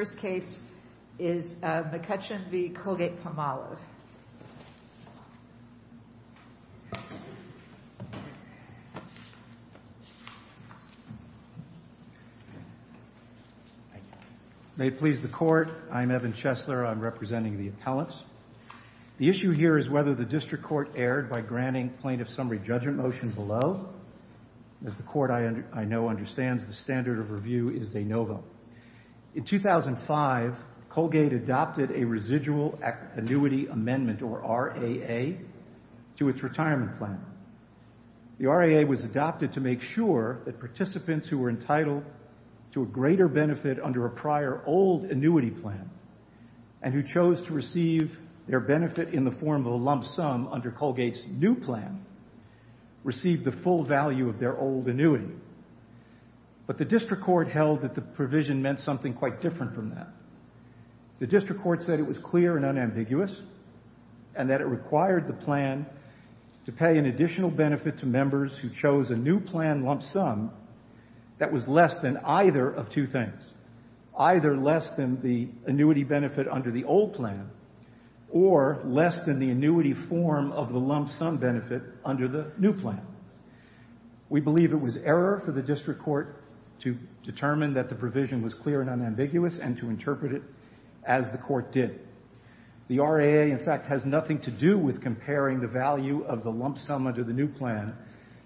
The first case is McCutcheon v. Colgate-Palmolive. May it please the Court, I'm Evan Chesler. I'm representing the appellants. The issue here is whether the District Court erred by granting plaintiff's summary judgment motion below. As the Court, I know, understands, the standard of review is de novo. In 2005, Colgate adopted a residual annuity amendment, or RAA, to its retirement plan. The RAA was adopted to make sure that participants who were entitled to a greater benefit under a prior old annuity plan and who chose to receive their benefit in the form of a lump sum under Colgate's new plan received the full value of their old annuity. But the District Court held that the provision meant something quite different from that. The District Court said it was clear and unambiguous and that it required the plan to pay an additional benefit to members who chose a new plan lump sum that was less than either of two things, either less than the annuity benefit under the old plan or less than the annuity form of the lump sum benefit under the new plan. We believe it was error for the District Court to determine that the provision was clear and unambiguous and to interpret it as the Court did. The RAA, in fact, has nothing to do with comparing the value of the lump sum under the new plan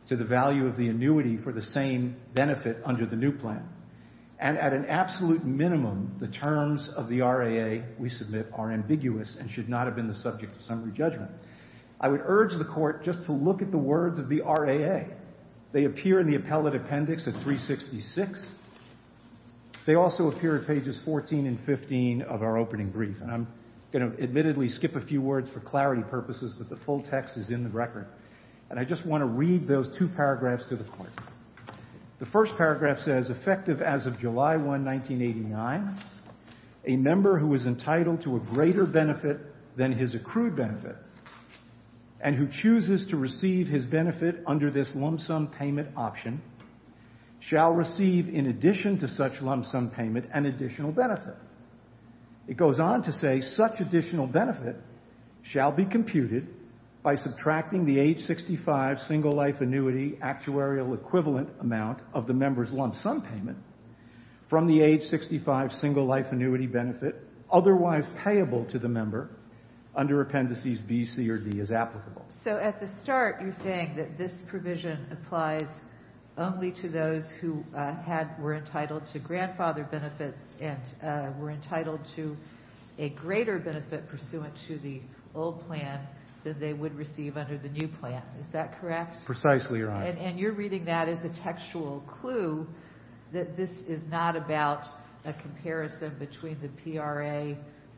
to the value of the annuity for the same benefit under the new plan. And at an absolute minimum, the terms of the RAA we submit are ambiguous and should not have been the subject of summary judgment. I would urge the Court just to look at the words of the RAA. They appear in the appellate appendix at 366. They also appear at pages 14 and 15 of our opening brief. And I'm going to admittedly skip a few words for clarity purposes, but the full text is in the record. And I just want to read those two paragraphs to the Court. The first paragraph says, As effective as of July 1, 1989, a member who is entitled to a greater benefit than his accrued benefit and who chooses to receive his benefit under this lump sum payment option shall receive, in addition to such lump sum payment, an additional benefit. It goes on to say, That such additional benefit shall be computed by subtracting the age 65 single-life annuity actuarial equivalent amount of the member's lump sum payment from the age 65 single-life annuity benefit otherwise payable to the member under Appendices B, C, or D as applicable. So at the start, you're saying that this provision applies only to those who were entitled to grandfather benefits and were entitled to a greater benefit pursuant to the old plan than they would receive under the new plan. Is that correct? Precisely, Your Honor. And you're reading that as a textual clue that this is not about a comparison between the PRA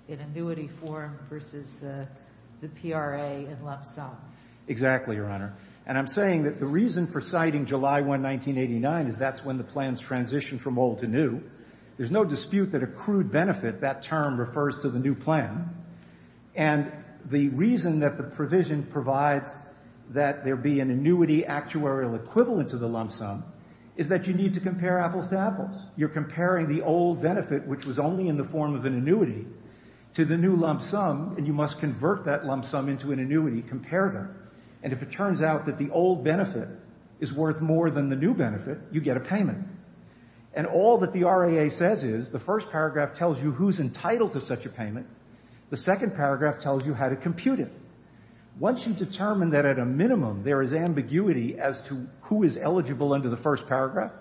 in annuity form versus the PRA in lump sum. Exactly, Your Honor. And I'm saying that the reason for citing July 1, 1989 is that's when the plans transition from old to new. There's no dispute that accrued benefit, that term refers to the new plan. And the reason that the provision provides that there be an annuity actuarial equivalent to the lump sum is that you need to compare apples to apples. You're comparing the old benefit, which was only in the form of an annuity, to the new lump sum, and you must convert that lump sum into an annuity, compare them. And if it turns out that the old benefit is worth more than the new benefit, you get a payment. And all that the RAA says is the first paragraph tells you who's entitled to such a payment. The second paragraph tells you how to compute it. Once you determine that at a minimum there is ambiguity as to who is eligible under the first paragraph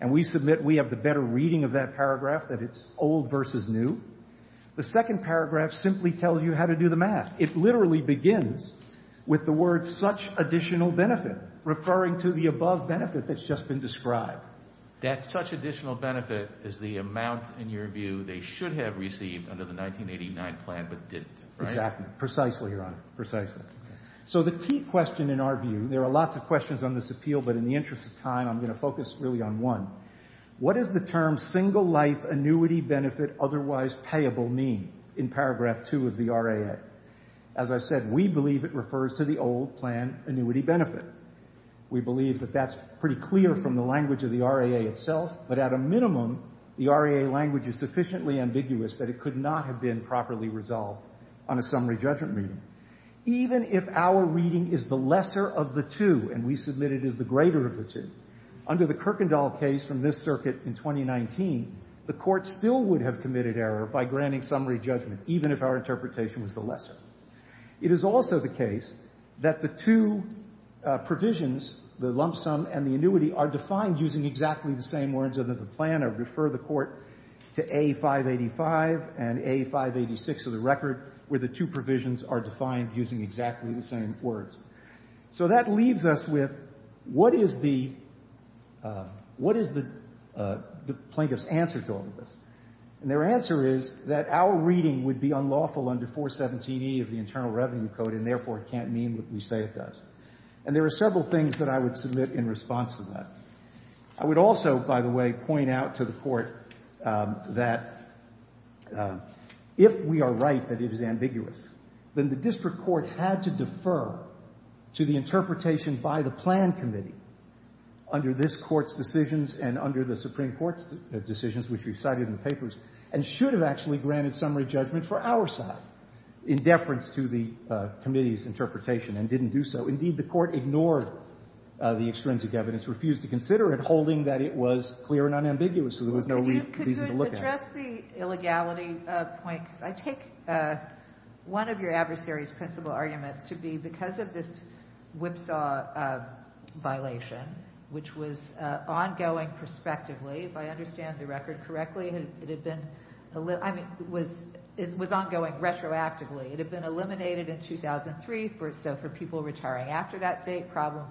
and we submit we have the better reading of that paragraph, that it's old versus new, the second paragraph simply tells you how to do the math. It literally begins with the word such additional benefit, referring to the above benefit that's just been described. That such additional benefit is the amount, in your view, they should have received under the 1989 plan but didn't, right? Exactly. Precisely, Your Honor. Precisely. So the key question in our view, there are lots of questions on this appeal, but in the interest of time I'm going to focus really on one. What does the term single life annuity benefit otherwise payable mean in paragraph 2 of the RAA? As I said, we believe it refers to the old plan annuity benefit. We believe that that's pretty clear from the language of the RAA itself, but at a minimum the RAA language is sufficiently ambiguous that it could not have been properly resolved on a summary judgment meeting. Even if our reading is the lesser of the two and we submit it is the greater of the two, under the Kirkendall case from this circuit in 2019, the court still would have committed error by granting summary judgment even if our interpretation was the lesser. It is also the case that the two provisions, the lump sum and the annuity, are defined using exactly the same words of the plan or refer the court to A. 585 and A. 586 of the record where the two provisions are defined using exactly the same words. So that leaves us with what is the plaintiff's answer to all of this? And their answer is that our reading would be unlawful under 417E of the Internal Revenue Code and therefore it can't mean what we say it does. And there are several things that I would submit in response to that. I would also, by the way, point out to the court that if we are right that it is ambiguous, then the district court had to defer to the interpretation by the plan committee under this Court's decisions and under the Supreme Court's decisions, which we cited in the papers, and should have actually granted summary judgment for our side in deference to the committee's interpretation and didn't do so. Indeed, the court ignored the extrinsic evidence, refused to consider it, holding that it was clear and unambiguous so there was no reason to look at it. I would address the illegality point because I take one of your adversary's principle arguments to be because of this whipsaw violation, which was ongoing prospectively, if I understand the record correctly, it had been ongoing retroactively. It had been eliminated in 2003, so for people retiring after that date, problem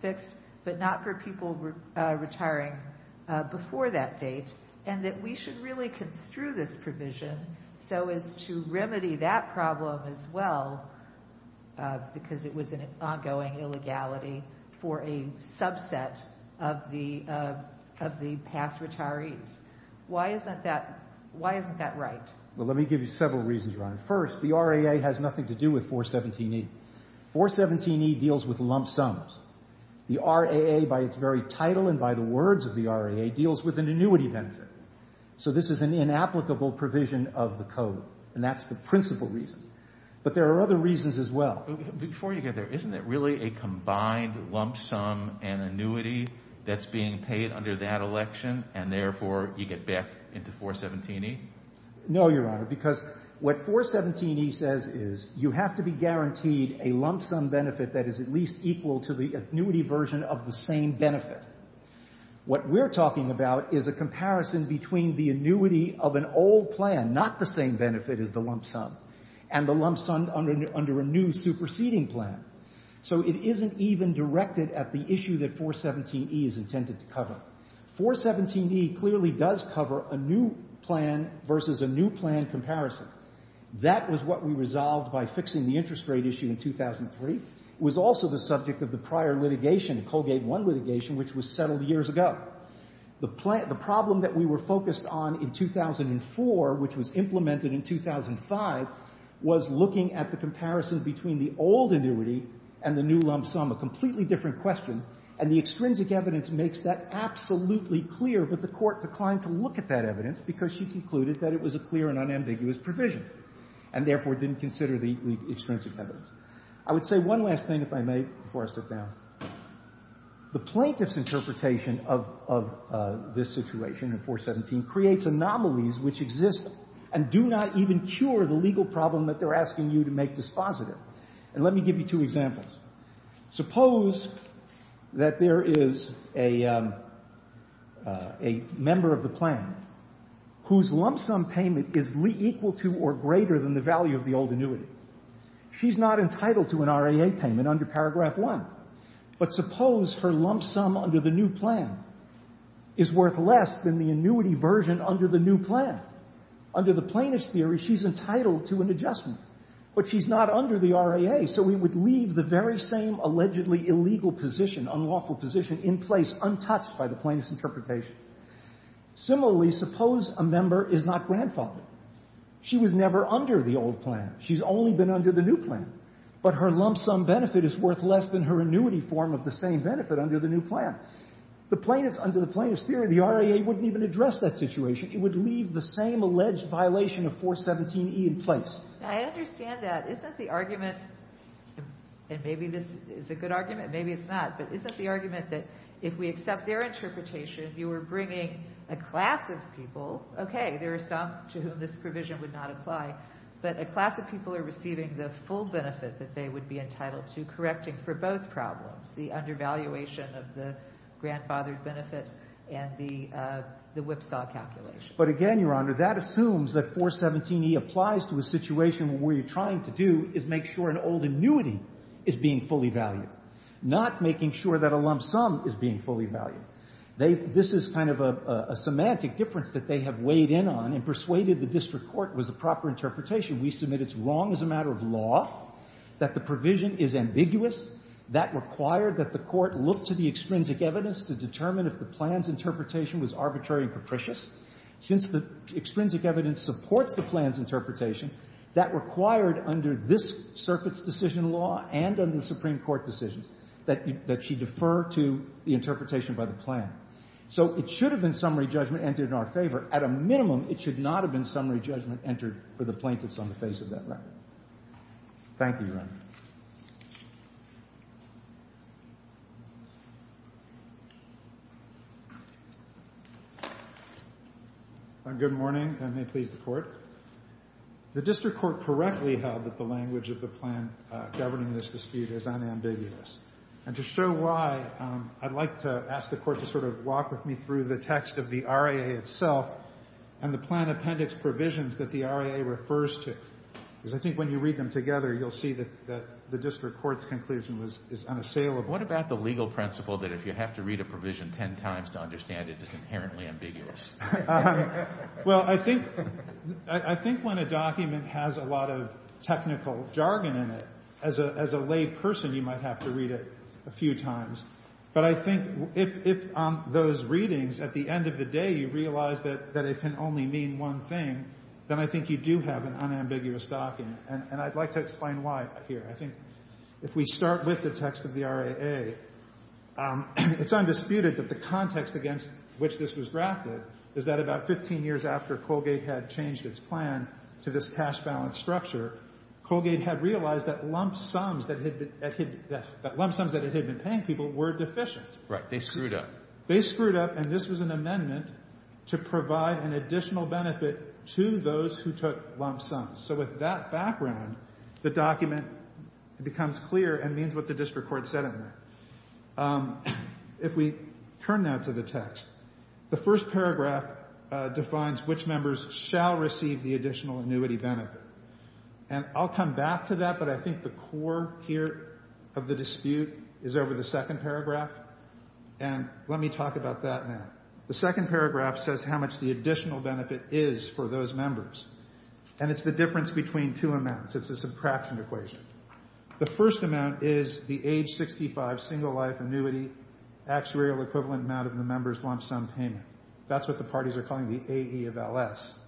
fixed, but not for people retiring before that date, and that we should really construe this provision so as to remedy that problem as well because it was an ongoing illegality for a subset of the past retirees. Why isn't that right? Well, let me give you several reasons, Ron. First, the RAA has nothing to do with 417E. 417E deals with lump sums. The RAA by its very title and by the words of the RAA deals with an annuity benefit. So this is an inapplicable provision of the code, and that's the principal reason. But there are other reasons as well. Before you get there, isn't it really a combined lump sum and annuity that's being paid under that election and therefore you get back into 417E? No, Your Honor, because what 417E says is you have to be guaranteed a lump sum benefit that is at least equal to the annuity version of the same benefit. What we're talking about is a comparison between the annuity of an old plan, not the same benefit as the lump sum, and the lump sum under a new superseding plan. So it isn't even directed at the issue that 417E is intended to cover. 417E clearly does cover a new plan versus a new plan comparison. That was what we resolved by fixing the interest rate issue in 2003. It was also the subject of the prior litigation, Colgate 1 litigation, which was settled years ago. The problem that we were focused on in 2004, which was implemented in 2005, was looking at the comparison between the old annuity and the new lump sum, a completely different question, and the extrinsic evidence makes that absolutely clear, but the Court declined to look at that evidence because she concluded that it was a clear and unambiguous provision and therefore didn't consider the extrinsic evidence. I would say one last thing, if I may, before I sit down. The plaintiff's interpretation of this situation in 417 creates anomalies which exist and do not even cure the legal problem that they're asking you to make dispositive. And let me give you two examples. Suppose that there is a member of the plan whose lump sum payment is equal to or greater than the value of the old annuity. She's not entitled to an RAA payment under paragraph 1. But suppose her lump sum under the new plan is worth less than the annuity version under the new plan. Under the plaintiff's theory, she's entitled to an adjustment, but she's not under the RAA, so we would leave the very same allegedly illegal position, unlawful position, in place, untouched by the plaintiff's interpretation. Similarly, suppose a member is not grandfathered. She was never under the old plan. She's only been under the new plan. But her lump sum benefit is worth less than her annuity form of the same benefit under the new plan. The plaintiffs, under the plaintiff's theory, the RAA wouldn't even address that situation. It would leave the same alleged violation of 417E in place. I understand that. Isn't the argument, and maybe this is a good argument, maybe it's not, but isn't the argument that if we accept their interpretation, you are bringing a class of people, okay, there are some to whom this provision would not apply, but a class of people are receiving the full benefit that they would be entitled to correcting for both problems, the undervaluation of the grandfathered benefit and the whipsaw calculation? But again, Your Honor, that assumes that 417E applies to a situation where what you're trying to do is make sure an old annuity is being fully valued, not making sure that a lump sum is being fully valued. This is kind of a semantic difference that they have weighed in on and persuaded the district court was a proper interpretation. We submit it's wrong as a matter of law, that the provision is ambiguous, that required that the court look to the extrinsic evidence to determine if the plan's interpretation was arbitrary and capricious. Since the extrinsic evidence supports the plan's interpretation, that required under this circuit's decision law and under the Supreme Court decisions that she defer to the interpretation by the plan. So it should have been summary judgment entered in our favor. At a minimum, it should not have been summary judgment entered for the plaintiffs on the face of that record. Thank you, Your Honor. Thank you. Good morning, and may it please the Court. The district court correctly held that the language of the plan governing this dispute is unambiguous. And to show why, I'd like to ask the Court to sort of walk with me through the text of the RAA itself and the plan appendix provisions that the RAA refers to. Because I think when you read them together, you'll see that the district court's conclusion is unassailable. What about the legal principle that if you have to read a provision ten times to understand it, it's inherently ambiguous? Well, I think when a document has a lot of technical jargon in it, as a lay person, you might have to read it a few times. But I think if those readings, at the end of the day, you realize that it can only mean one thing, then I think you do have an unambiguous docking. And I'd like to explain why here. I think if we start with the text of the RAA, it's undisputed that the context against which this was drafted is that about 15 years after Colgate had changed its plan to this cash balance structure, Colgate had realized that lump sums that it had been paying people were deficient. Right. They screwed up. And this was an amendment to provide an additional benefit to those who took lump sums. So with that background, the document becomes clear and means what the district court said in there. If we turn now to the text, the first paragraph defines which members shall receive the additional annuity benefit. And I'll come back to that, but I think the core here of the dispute is over the second paragraph. And let me talk about that now. The second paragraph says how much the additional benefit is for those members. And it's the difference between two amounts. It's a subtraction equation. The first amount is the age 65 single life annuity actuarial equivalent amount of the member's lump sum payment. That's what the parties are calling the AE of LS.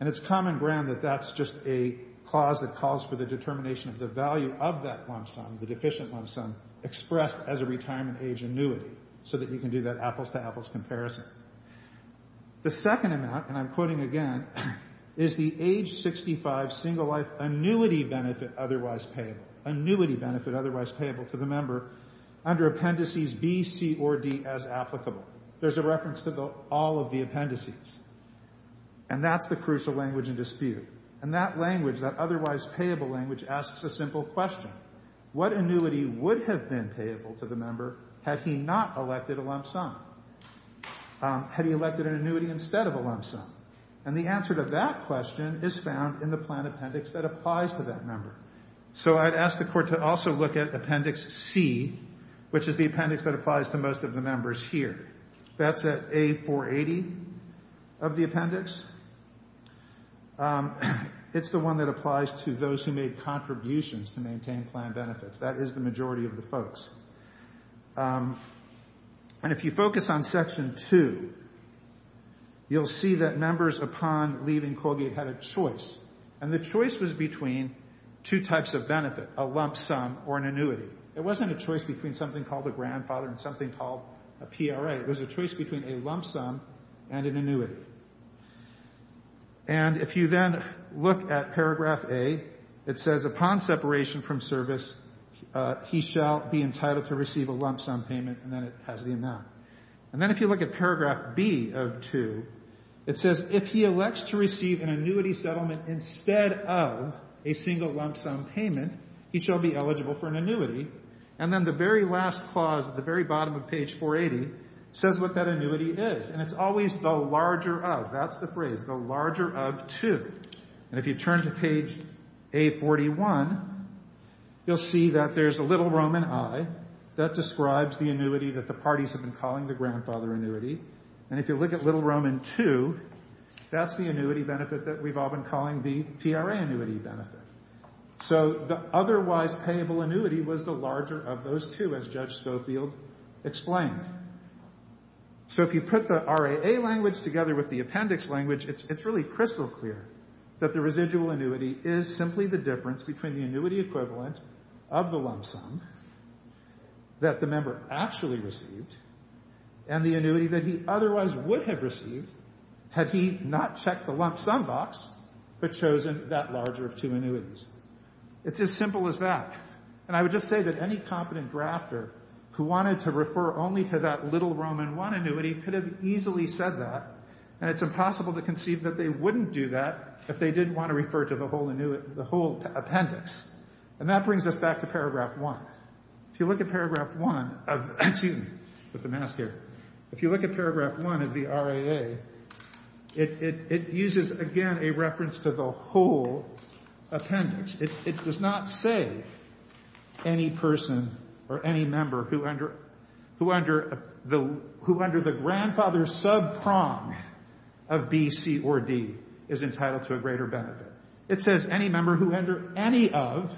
And it's common ground that that's just a clause that calls for the determination of the value of that lump sum, the deficient lump sum, expressed as a retirement age annuity so that you can do that apples-to-apples comparison. The second amount, and I'm quoting again, is the age 65 single life annuity benefit otherwise payable, annuity benefit otherwise payable to the member under appendices B, C, or D as applicable. There's a reference to all of the appendices. And that's the crucial language in dispute. And that language, that otherwise payable language, asks a simple question. What annuity would have been payable to the member had he not elected a lump sum? Had he elected an annuity instead of a lump sum? And the answer to that question is found in the plan appendix that applies to that member. So I'd ask the Court to also look at Appendix C, which is the appendix that applies to most of the members here. That's at A480 of the appendix. It's the one that applies to those who made contributions to maintain plan benefits. That is the majority of the folks. And if you focus on Section 2, you'll see that members upon leaving Colgate had a choice. And the choice was between two types of benefit, a lump sum or an annuity. It wasn't a choice between something called a grandfather and something called a PRA. It was a choice between a lump sum and an annuity. And if you then look at Paragraph A, it says, Upon separation from service, he shall be entitled to receive a lump sum payment. And then it has the amount. And then if you look at Paragraph B of 2, it says, If he elects to receive an annuity settlement instead of a single lump sum payment, he shall be eligible for an annuity. And then the very last clause at the very bottom of page 480 says what that annuity is. And it's always the larger of. That's the phrase, the larger of two. And if you turn to page A41, you'll see that there's a little Roman I. That describes the annuity that the parties have been calling the grandfather annuity. And if you look at little Roman II, that's the annuity benefit that we've all been calling the PRA annuity benefit. So the otherwise payable annuity was the larger of those two, as Judge Spofield explained. So if you put the RAA language together with the appendix language, it's really crystal clear that the residual annuity is simply the difference between the annuity equivalent of the lump sum that the member actually received and the annuity that he otherwise would have received had he not checked the lump sum box but chosen that larger of two annuities. It's as simple as that. And I would just say that any competent drafter who wanted to refer only to that little Roman I annuity could have easily said that, and it's impossible to conceive that they wouldn't do that if they didn't want to refer to the whole appendix. And that brings us back to paragraph 1. If you look at paragraph 1 of the RAA, it uses, again, a reference to the whole appendix. It does not say any person or any member who under the grandfather subprime of B, C, or D is entitled to a greater benefit. It says any member who under any of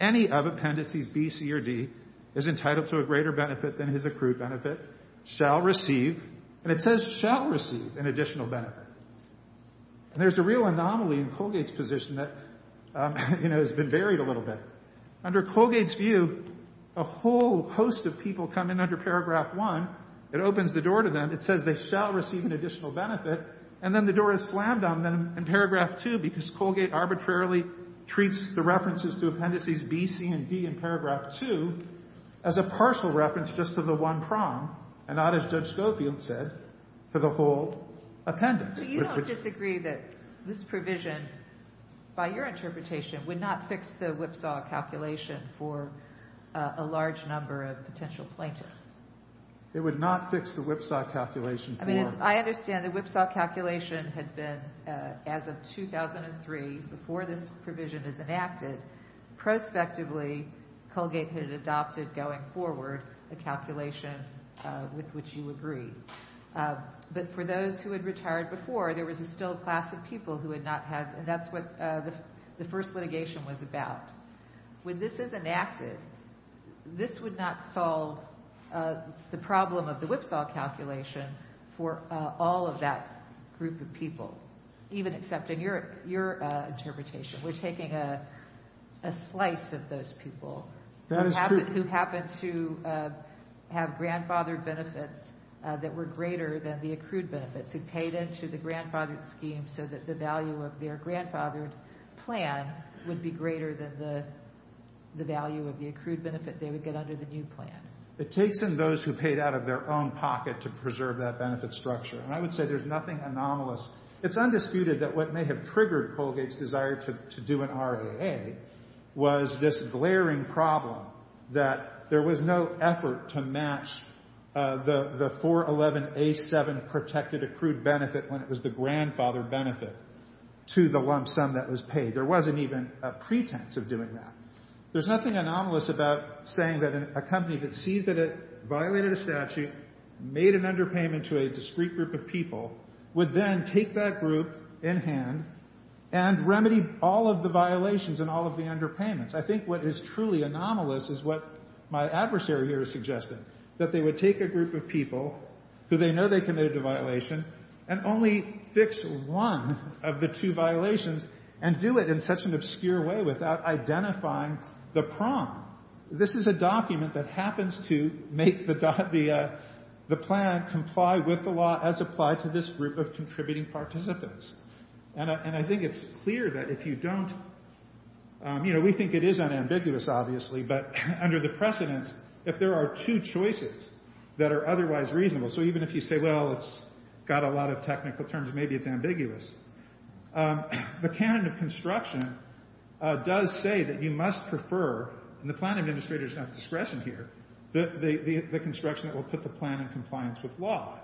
appendices B, C, or D is entitled to a greater benefit than his accrued benefit shall receive, and it says shall receive an additional benefit. And there's a real anomaly in Colgate's position that, you know, has been varied a little bit. Under Colgate's view, a whole host of people come in under paragraph 1. It opens the door to them. It says they shall receive an additional benefit, and then the door is slammed on them in paragraph 2 because Colgate arbitrarily treats the references to appendices B, C, and D in paragraph 2 as a partial reference just to the one prong and not, as Judge Scofield said, to the whole appendix. But you don't disagree that this provision, by your interpretation, would not fix the Whipsaw calculation for a large number of potential plaintiffs? It would not fix the Whipsaw calculation for them. I mean, I understand the Whipsaw calculation had been, as of 2003, before this provision is enacted, prospectively Colgate had adopted going forward a calculation with which you agree. But for those who had retired before, there was a still class of people who had not had, and that's what the first litigation was about. When this is enacted, this would not solve the problem of the Whipsaw calculation for all of that group of people, even accepting your interpretation. We're taking a slice of those people who happened to have grandfathered benefits that were greater than the accrued benefits, who paid into the grandfathered scheme so that the value of their grandfathered plan would be greater than the value of the accrued benefit they would get under the new plan. It takes in those who paid out of their own pocket to preserve that benefit structure. And I would say there's nothing anomalous. It's undisputed that what may have triggered Colgate's desire to do an RAA was this glaring problem that there was no effort to match the 411A7 protected accrued benefit when it was the grandfather benefit to the lump sum that was paid. There wasn't even a pretense of doing that. There's nothing anomalous about saying that a company that sees that it violated a statute, made an underpayment to a discrete group of people, would then take that group in hand and remedy all of the violations and all of the underpayments. I think what is truly anomalous is what my adversary here is suggesting, that they would take a group of people who they know they committed a violation and only fix one of the two violations and do it in such an obscure way without identifying the prong. This is a document that happens to make the plan comply with the law as applied to this group of contributing participants. And I think it's clear that if you don't, you know, we think it is unambiguous, obviously, but under the precedence, if there are two choices that are otherwise reasonable, so even if you say, well, it's got a lot of technical terms, maybe it's ambiguous. The canon of construction does say that you must prefer, and the planning administrator is not at discretion here, the construction that will put the plan in compliance with law.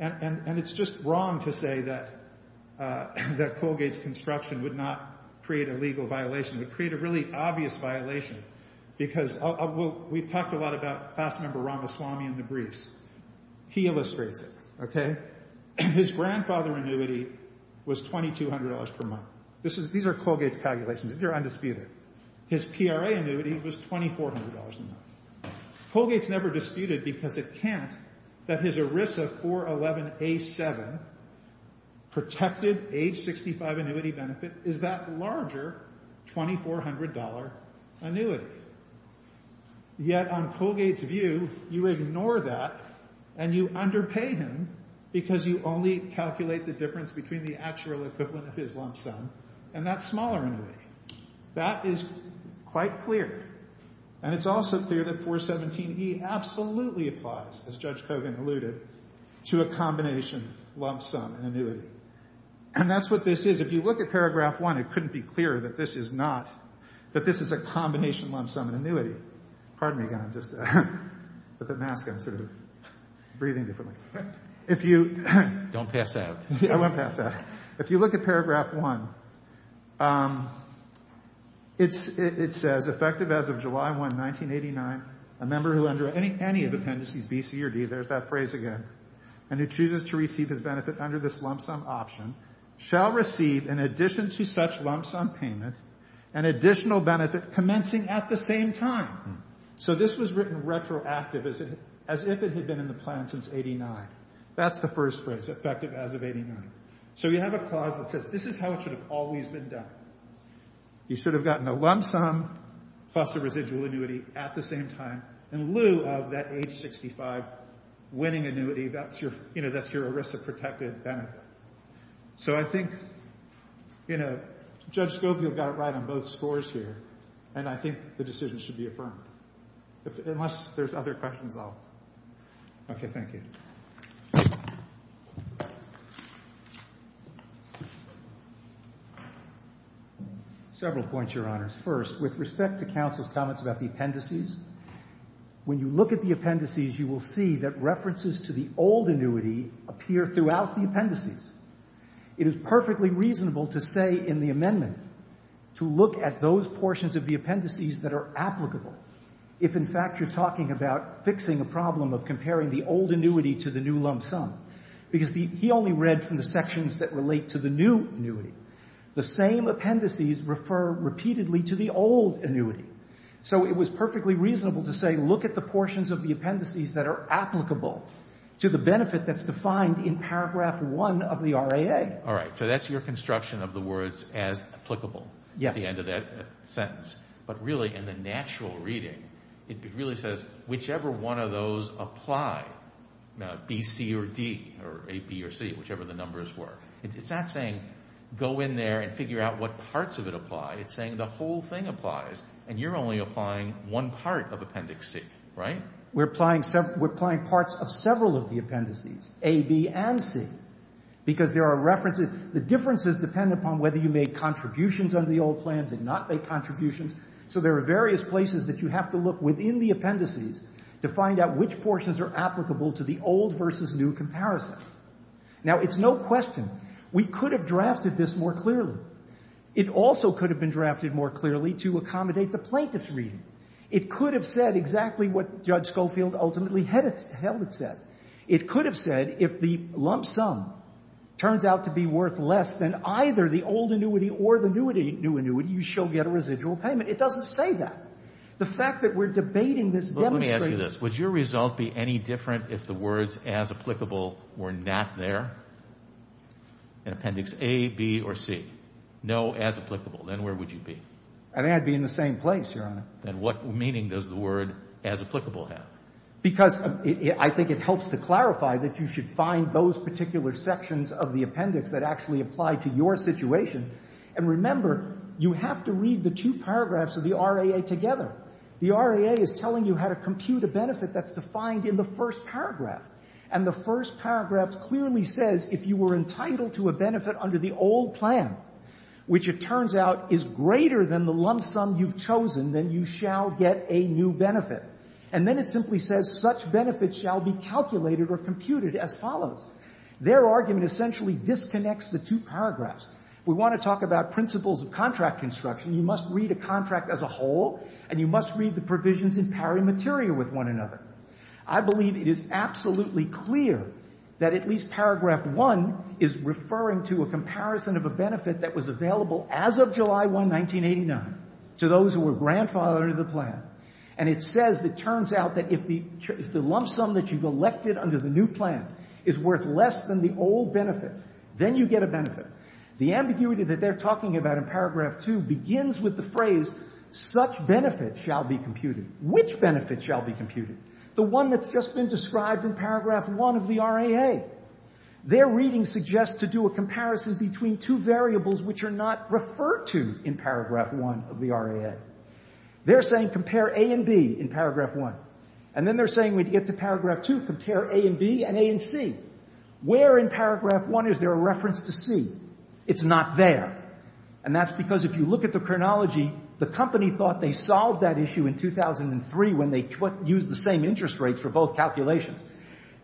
And it's just wrong to say that Colgate's construction would not create a legal violation. It would create a really obvious violation because we've talked a lot about class member Ramaswamy in the briefs. He illustrates it, okay? His grandfather annuity was $2,200 per month. These are Colgate's calculations. These are undisputed. His PRA annuity was $2,400 a month. Colgate's never disputed because it can't that his ERISA 411A7 protected age 65 annuity benefit is that larger $2,400 annuity. Yet on Colgate's view, you ignore that and you underpay him because you only calculate the difference between the actual equivalent of his lump sum, and that's smaller annuity. That is quite clear, and it's also clear that 417E absolutely applies, as Judge Kogan alluded, to a combination lump sum annuity. And that's what this is. If you look at paragraph 1, it couldn't be clearer that this is not, it's a combination lump sum annuity. Pardon me again. I'm just, with the mask, I'm sort of breathing differently. If you... Don't pass out. I won't pass out. If you look at paragraph 1, it says, effective as of July 1, 1989, a member who under any of appendices B, C, or D, there's that phrase again, and who chooses to receive his benefit under this lump sum option shall receive, in addition to such lump sum payment, an additional benefit commencing at the same time. So this was written retroactive as if it had been in the plan since 89. That's the first phrase, effective as of 89. So you have a clause that says this is how it should have always been done. You should have gotten a lump sum plus a residual annuity at the same time in lieu of that age 65 winning annuity. That's your, you know, that's your ERISA protected benefit. So I think, you know, Judge Scofield got it right on both scores here, and I think the decision should be affirmed. Unless there's other questions, I'll... Okay, thank you. Several points, Your Honors. First, with respect to counsel's comments about the appendices, when you look at the appendices, you will see that references to the old annuity appear throughout the appendices. It is perfectly reasonable to say in the amendment to look at those portions of the appendices that are applicable if, in fact, you're talking about fixing a problem of comparing the old annuity to the new lump sum because he only read from the sections that relate to the new annuity. The same appendices refer repeatedly to the old annuity. So it was perfectly reasonable to say look at the portions of the appendices that are applicable to the benefit that's defined in paragraph 1 of the RAA. All right, so that's your construction of the words as applicable at the end of that sentence. But really, in the natural reading, it really says whichever one of those apply, B, C, or D, or A, B, or C, whichever the numbers were, it's not saying go in there and figure out what parts of it apply. It's saying the whole thing applies, and you're only applying one part of Appendix C, right? We're applying parts of several of the appendices, A, B, and C, because there are references. The differences depend upon whether you made contributions under the old plan, did not make contributions. So there are various places that you have to look within the appendices to find out which portions are applicable to the old versus new comparison. Now, it's no question. We could have drafted this more clearly. It also could have been drafted more clearly to accommodate the plaintiff's reading. It could have said exactly what Judge Schofield ultimately held it said. It could have said if the lump sum turns out to be worth less than either the old annuity or the new annuity, you shall get a residual payment. It doesn't say that. The fact that we're debating this demonstrates... But let me ask you this. Would your result be any different if the words as applicable were not there in Appendix A, B, or C? No, as applicable. Then where would you be? I think I'd be in the same place, Your Honor. Then what meaning does the word as applicable have? Because I think it helps to clarify that you should find those particular sections of the appendix that actually apply to your situation. And remember, you have to read the two paragraphs of the RAA together. The RAA is telling you how to compute a benefit that's defined in the first paragraph. And the first paragraph clearly says if you were entitled to a benefit under the old plan, which it turns out is greater than the lump sum you've chosen, then you shall get a new benefit. And then it simply says such benefits shall be calculated or computed as follows. Their argument essentially disconnects the two paragraphs. We want to talk about principles of contract construction. You must read a contract as a whole and you must read the provisions in pari materia with one another. I believe it is absolutely clear that at least paragraph 1 is referring to a comparison of a benefit that was available as of July 1, 1989 to those who were grandfathered under the plan. And it says it turns out that if the lump sum that you've elected under the new plan is worth less than the old benefit, then you get a benefit. The ambiguity that they're talking about in paragraph 2 Which benefits shall be computed? The one that's just been described in paragraph 1 of the RAA. Their reading suggests to do a comparison between two variables which are not referred to in paragraph 1 of the RAA. They're saying compare A and B in paragraph 1. And then they're saying when you get to paragraph 2, compare A and B and A and C. Where in paragraph 1 is there a reference to C? It's not there. And that's because if you look at the chronology, the company thought they solved that issue in 2003 when they used the same interest rates for both calculations.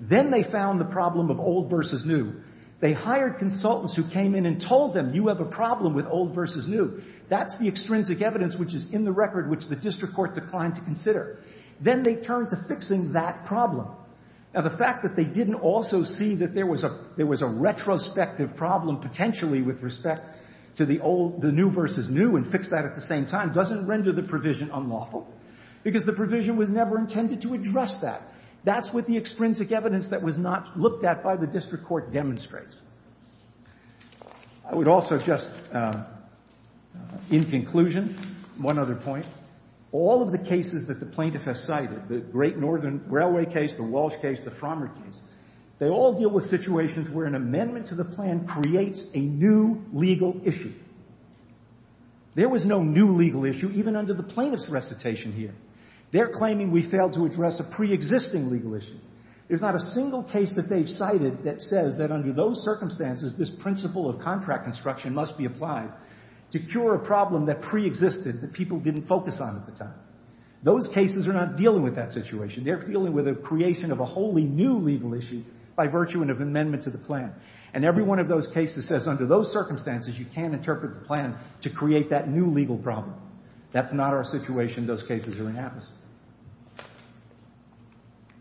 Then they found the problem of old versus new. They hired consultants who came in and told them, you have a problem with old versus new. That's the extrinsic evidence which is in the record which the district court declined to consider. Then they turned to fixing that problem. Now, the fact that they didn't also see that there was a retrospective problem potentially with respect to the new versus new and fix that at the same time doesn't render the provision unlawful because the provision was never intended to address that. That's what the extrinsic evidence that was not looked at by the district court demonstrates. I would also just, in conclusion, one other point. All of the cases that the plaintiff has cited, the Great Northern Railway case, the Walsh case, the Frommer case, they all deal with situations where an amendment to the plan creates a new legal issue. There was no new legal issue even under the plaintiff's recitation here. They're claiming we failed to address a preexisting legal issue. There's not a single case that they've cited that says that under those circumstances this principle of contract construction must be applied to cure a problem that preexisted that people didn't focus on at the time. Those cases are not dealing with that situation. They're dealing with a creation of a wholly new legal issue by virtue of an amendment to the plan. And every one of those cases says under those circumstances you can't interpret the plan to create that new legal problem. That's not our situation. Those cases are inapplicable.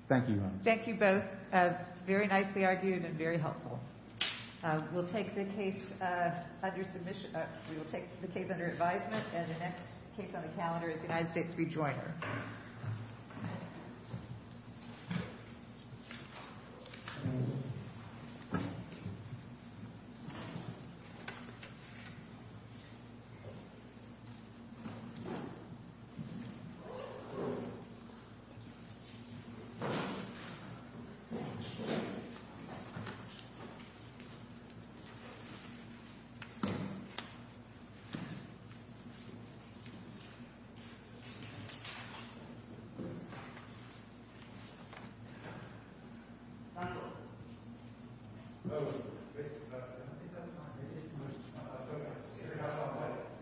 Thank you, Your Honor. Thank you both. Very nicely argued and very helpful. We'll take the case under submission... We will take the case under advisement and the next case on the calendar is the United States rejoiner. Thank you. Thank you.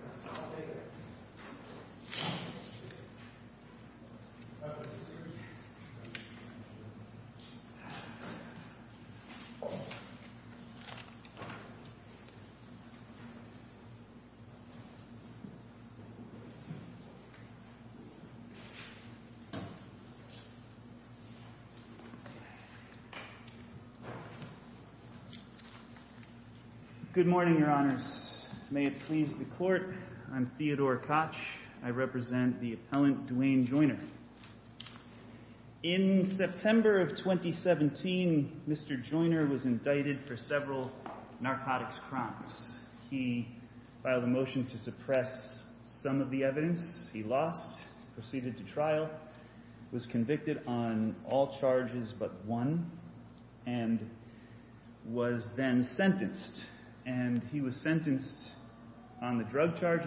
Good morning, Your Honors. May it please the Court, I'm Theodore Koch. I represent the appellant Duane Joiner. In September of 2017, Mr. Joiner was indicted for several narcotics crimes. He filed a motion to suppress some of the evidence he lost, proceeded to trial, was convicted on all charges but one, and was then sentenced. And he was sentenced on the drug charges...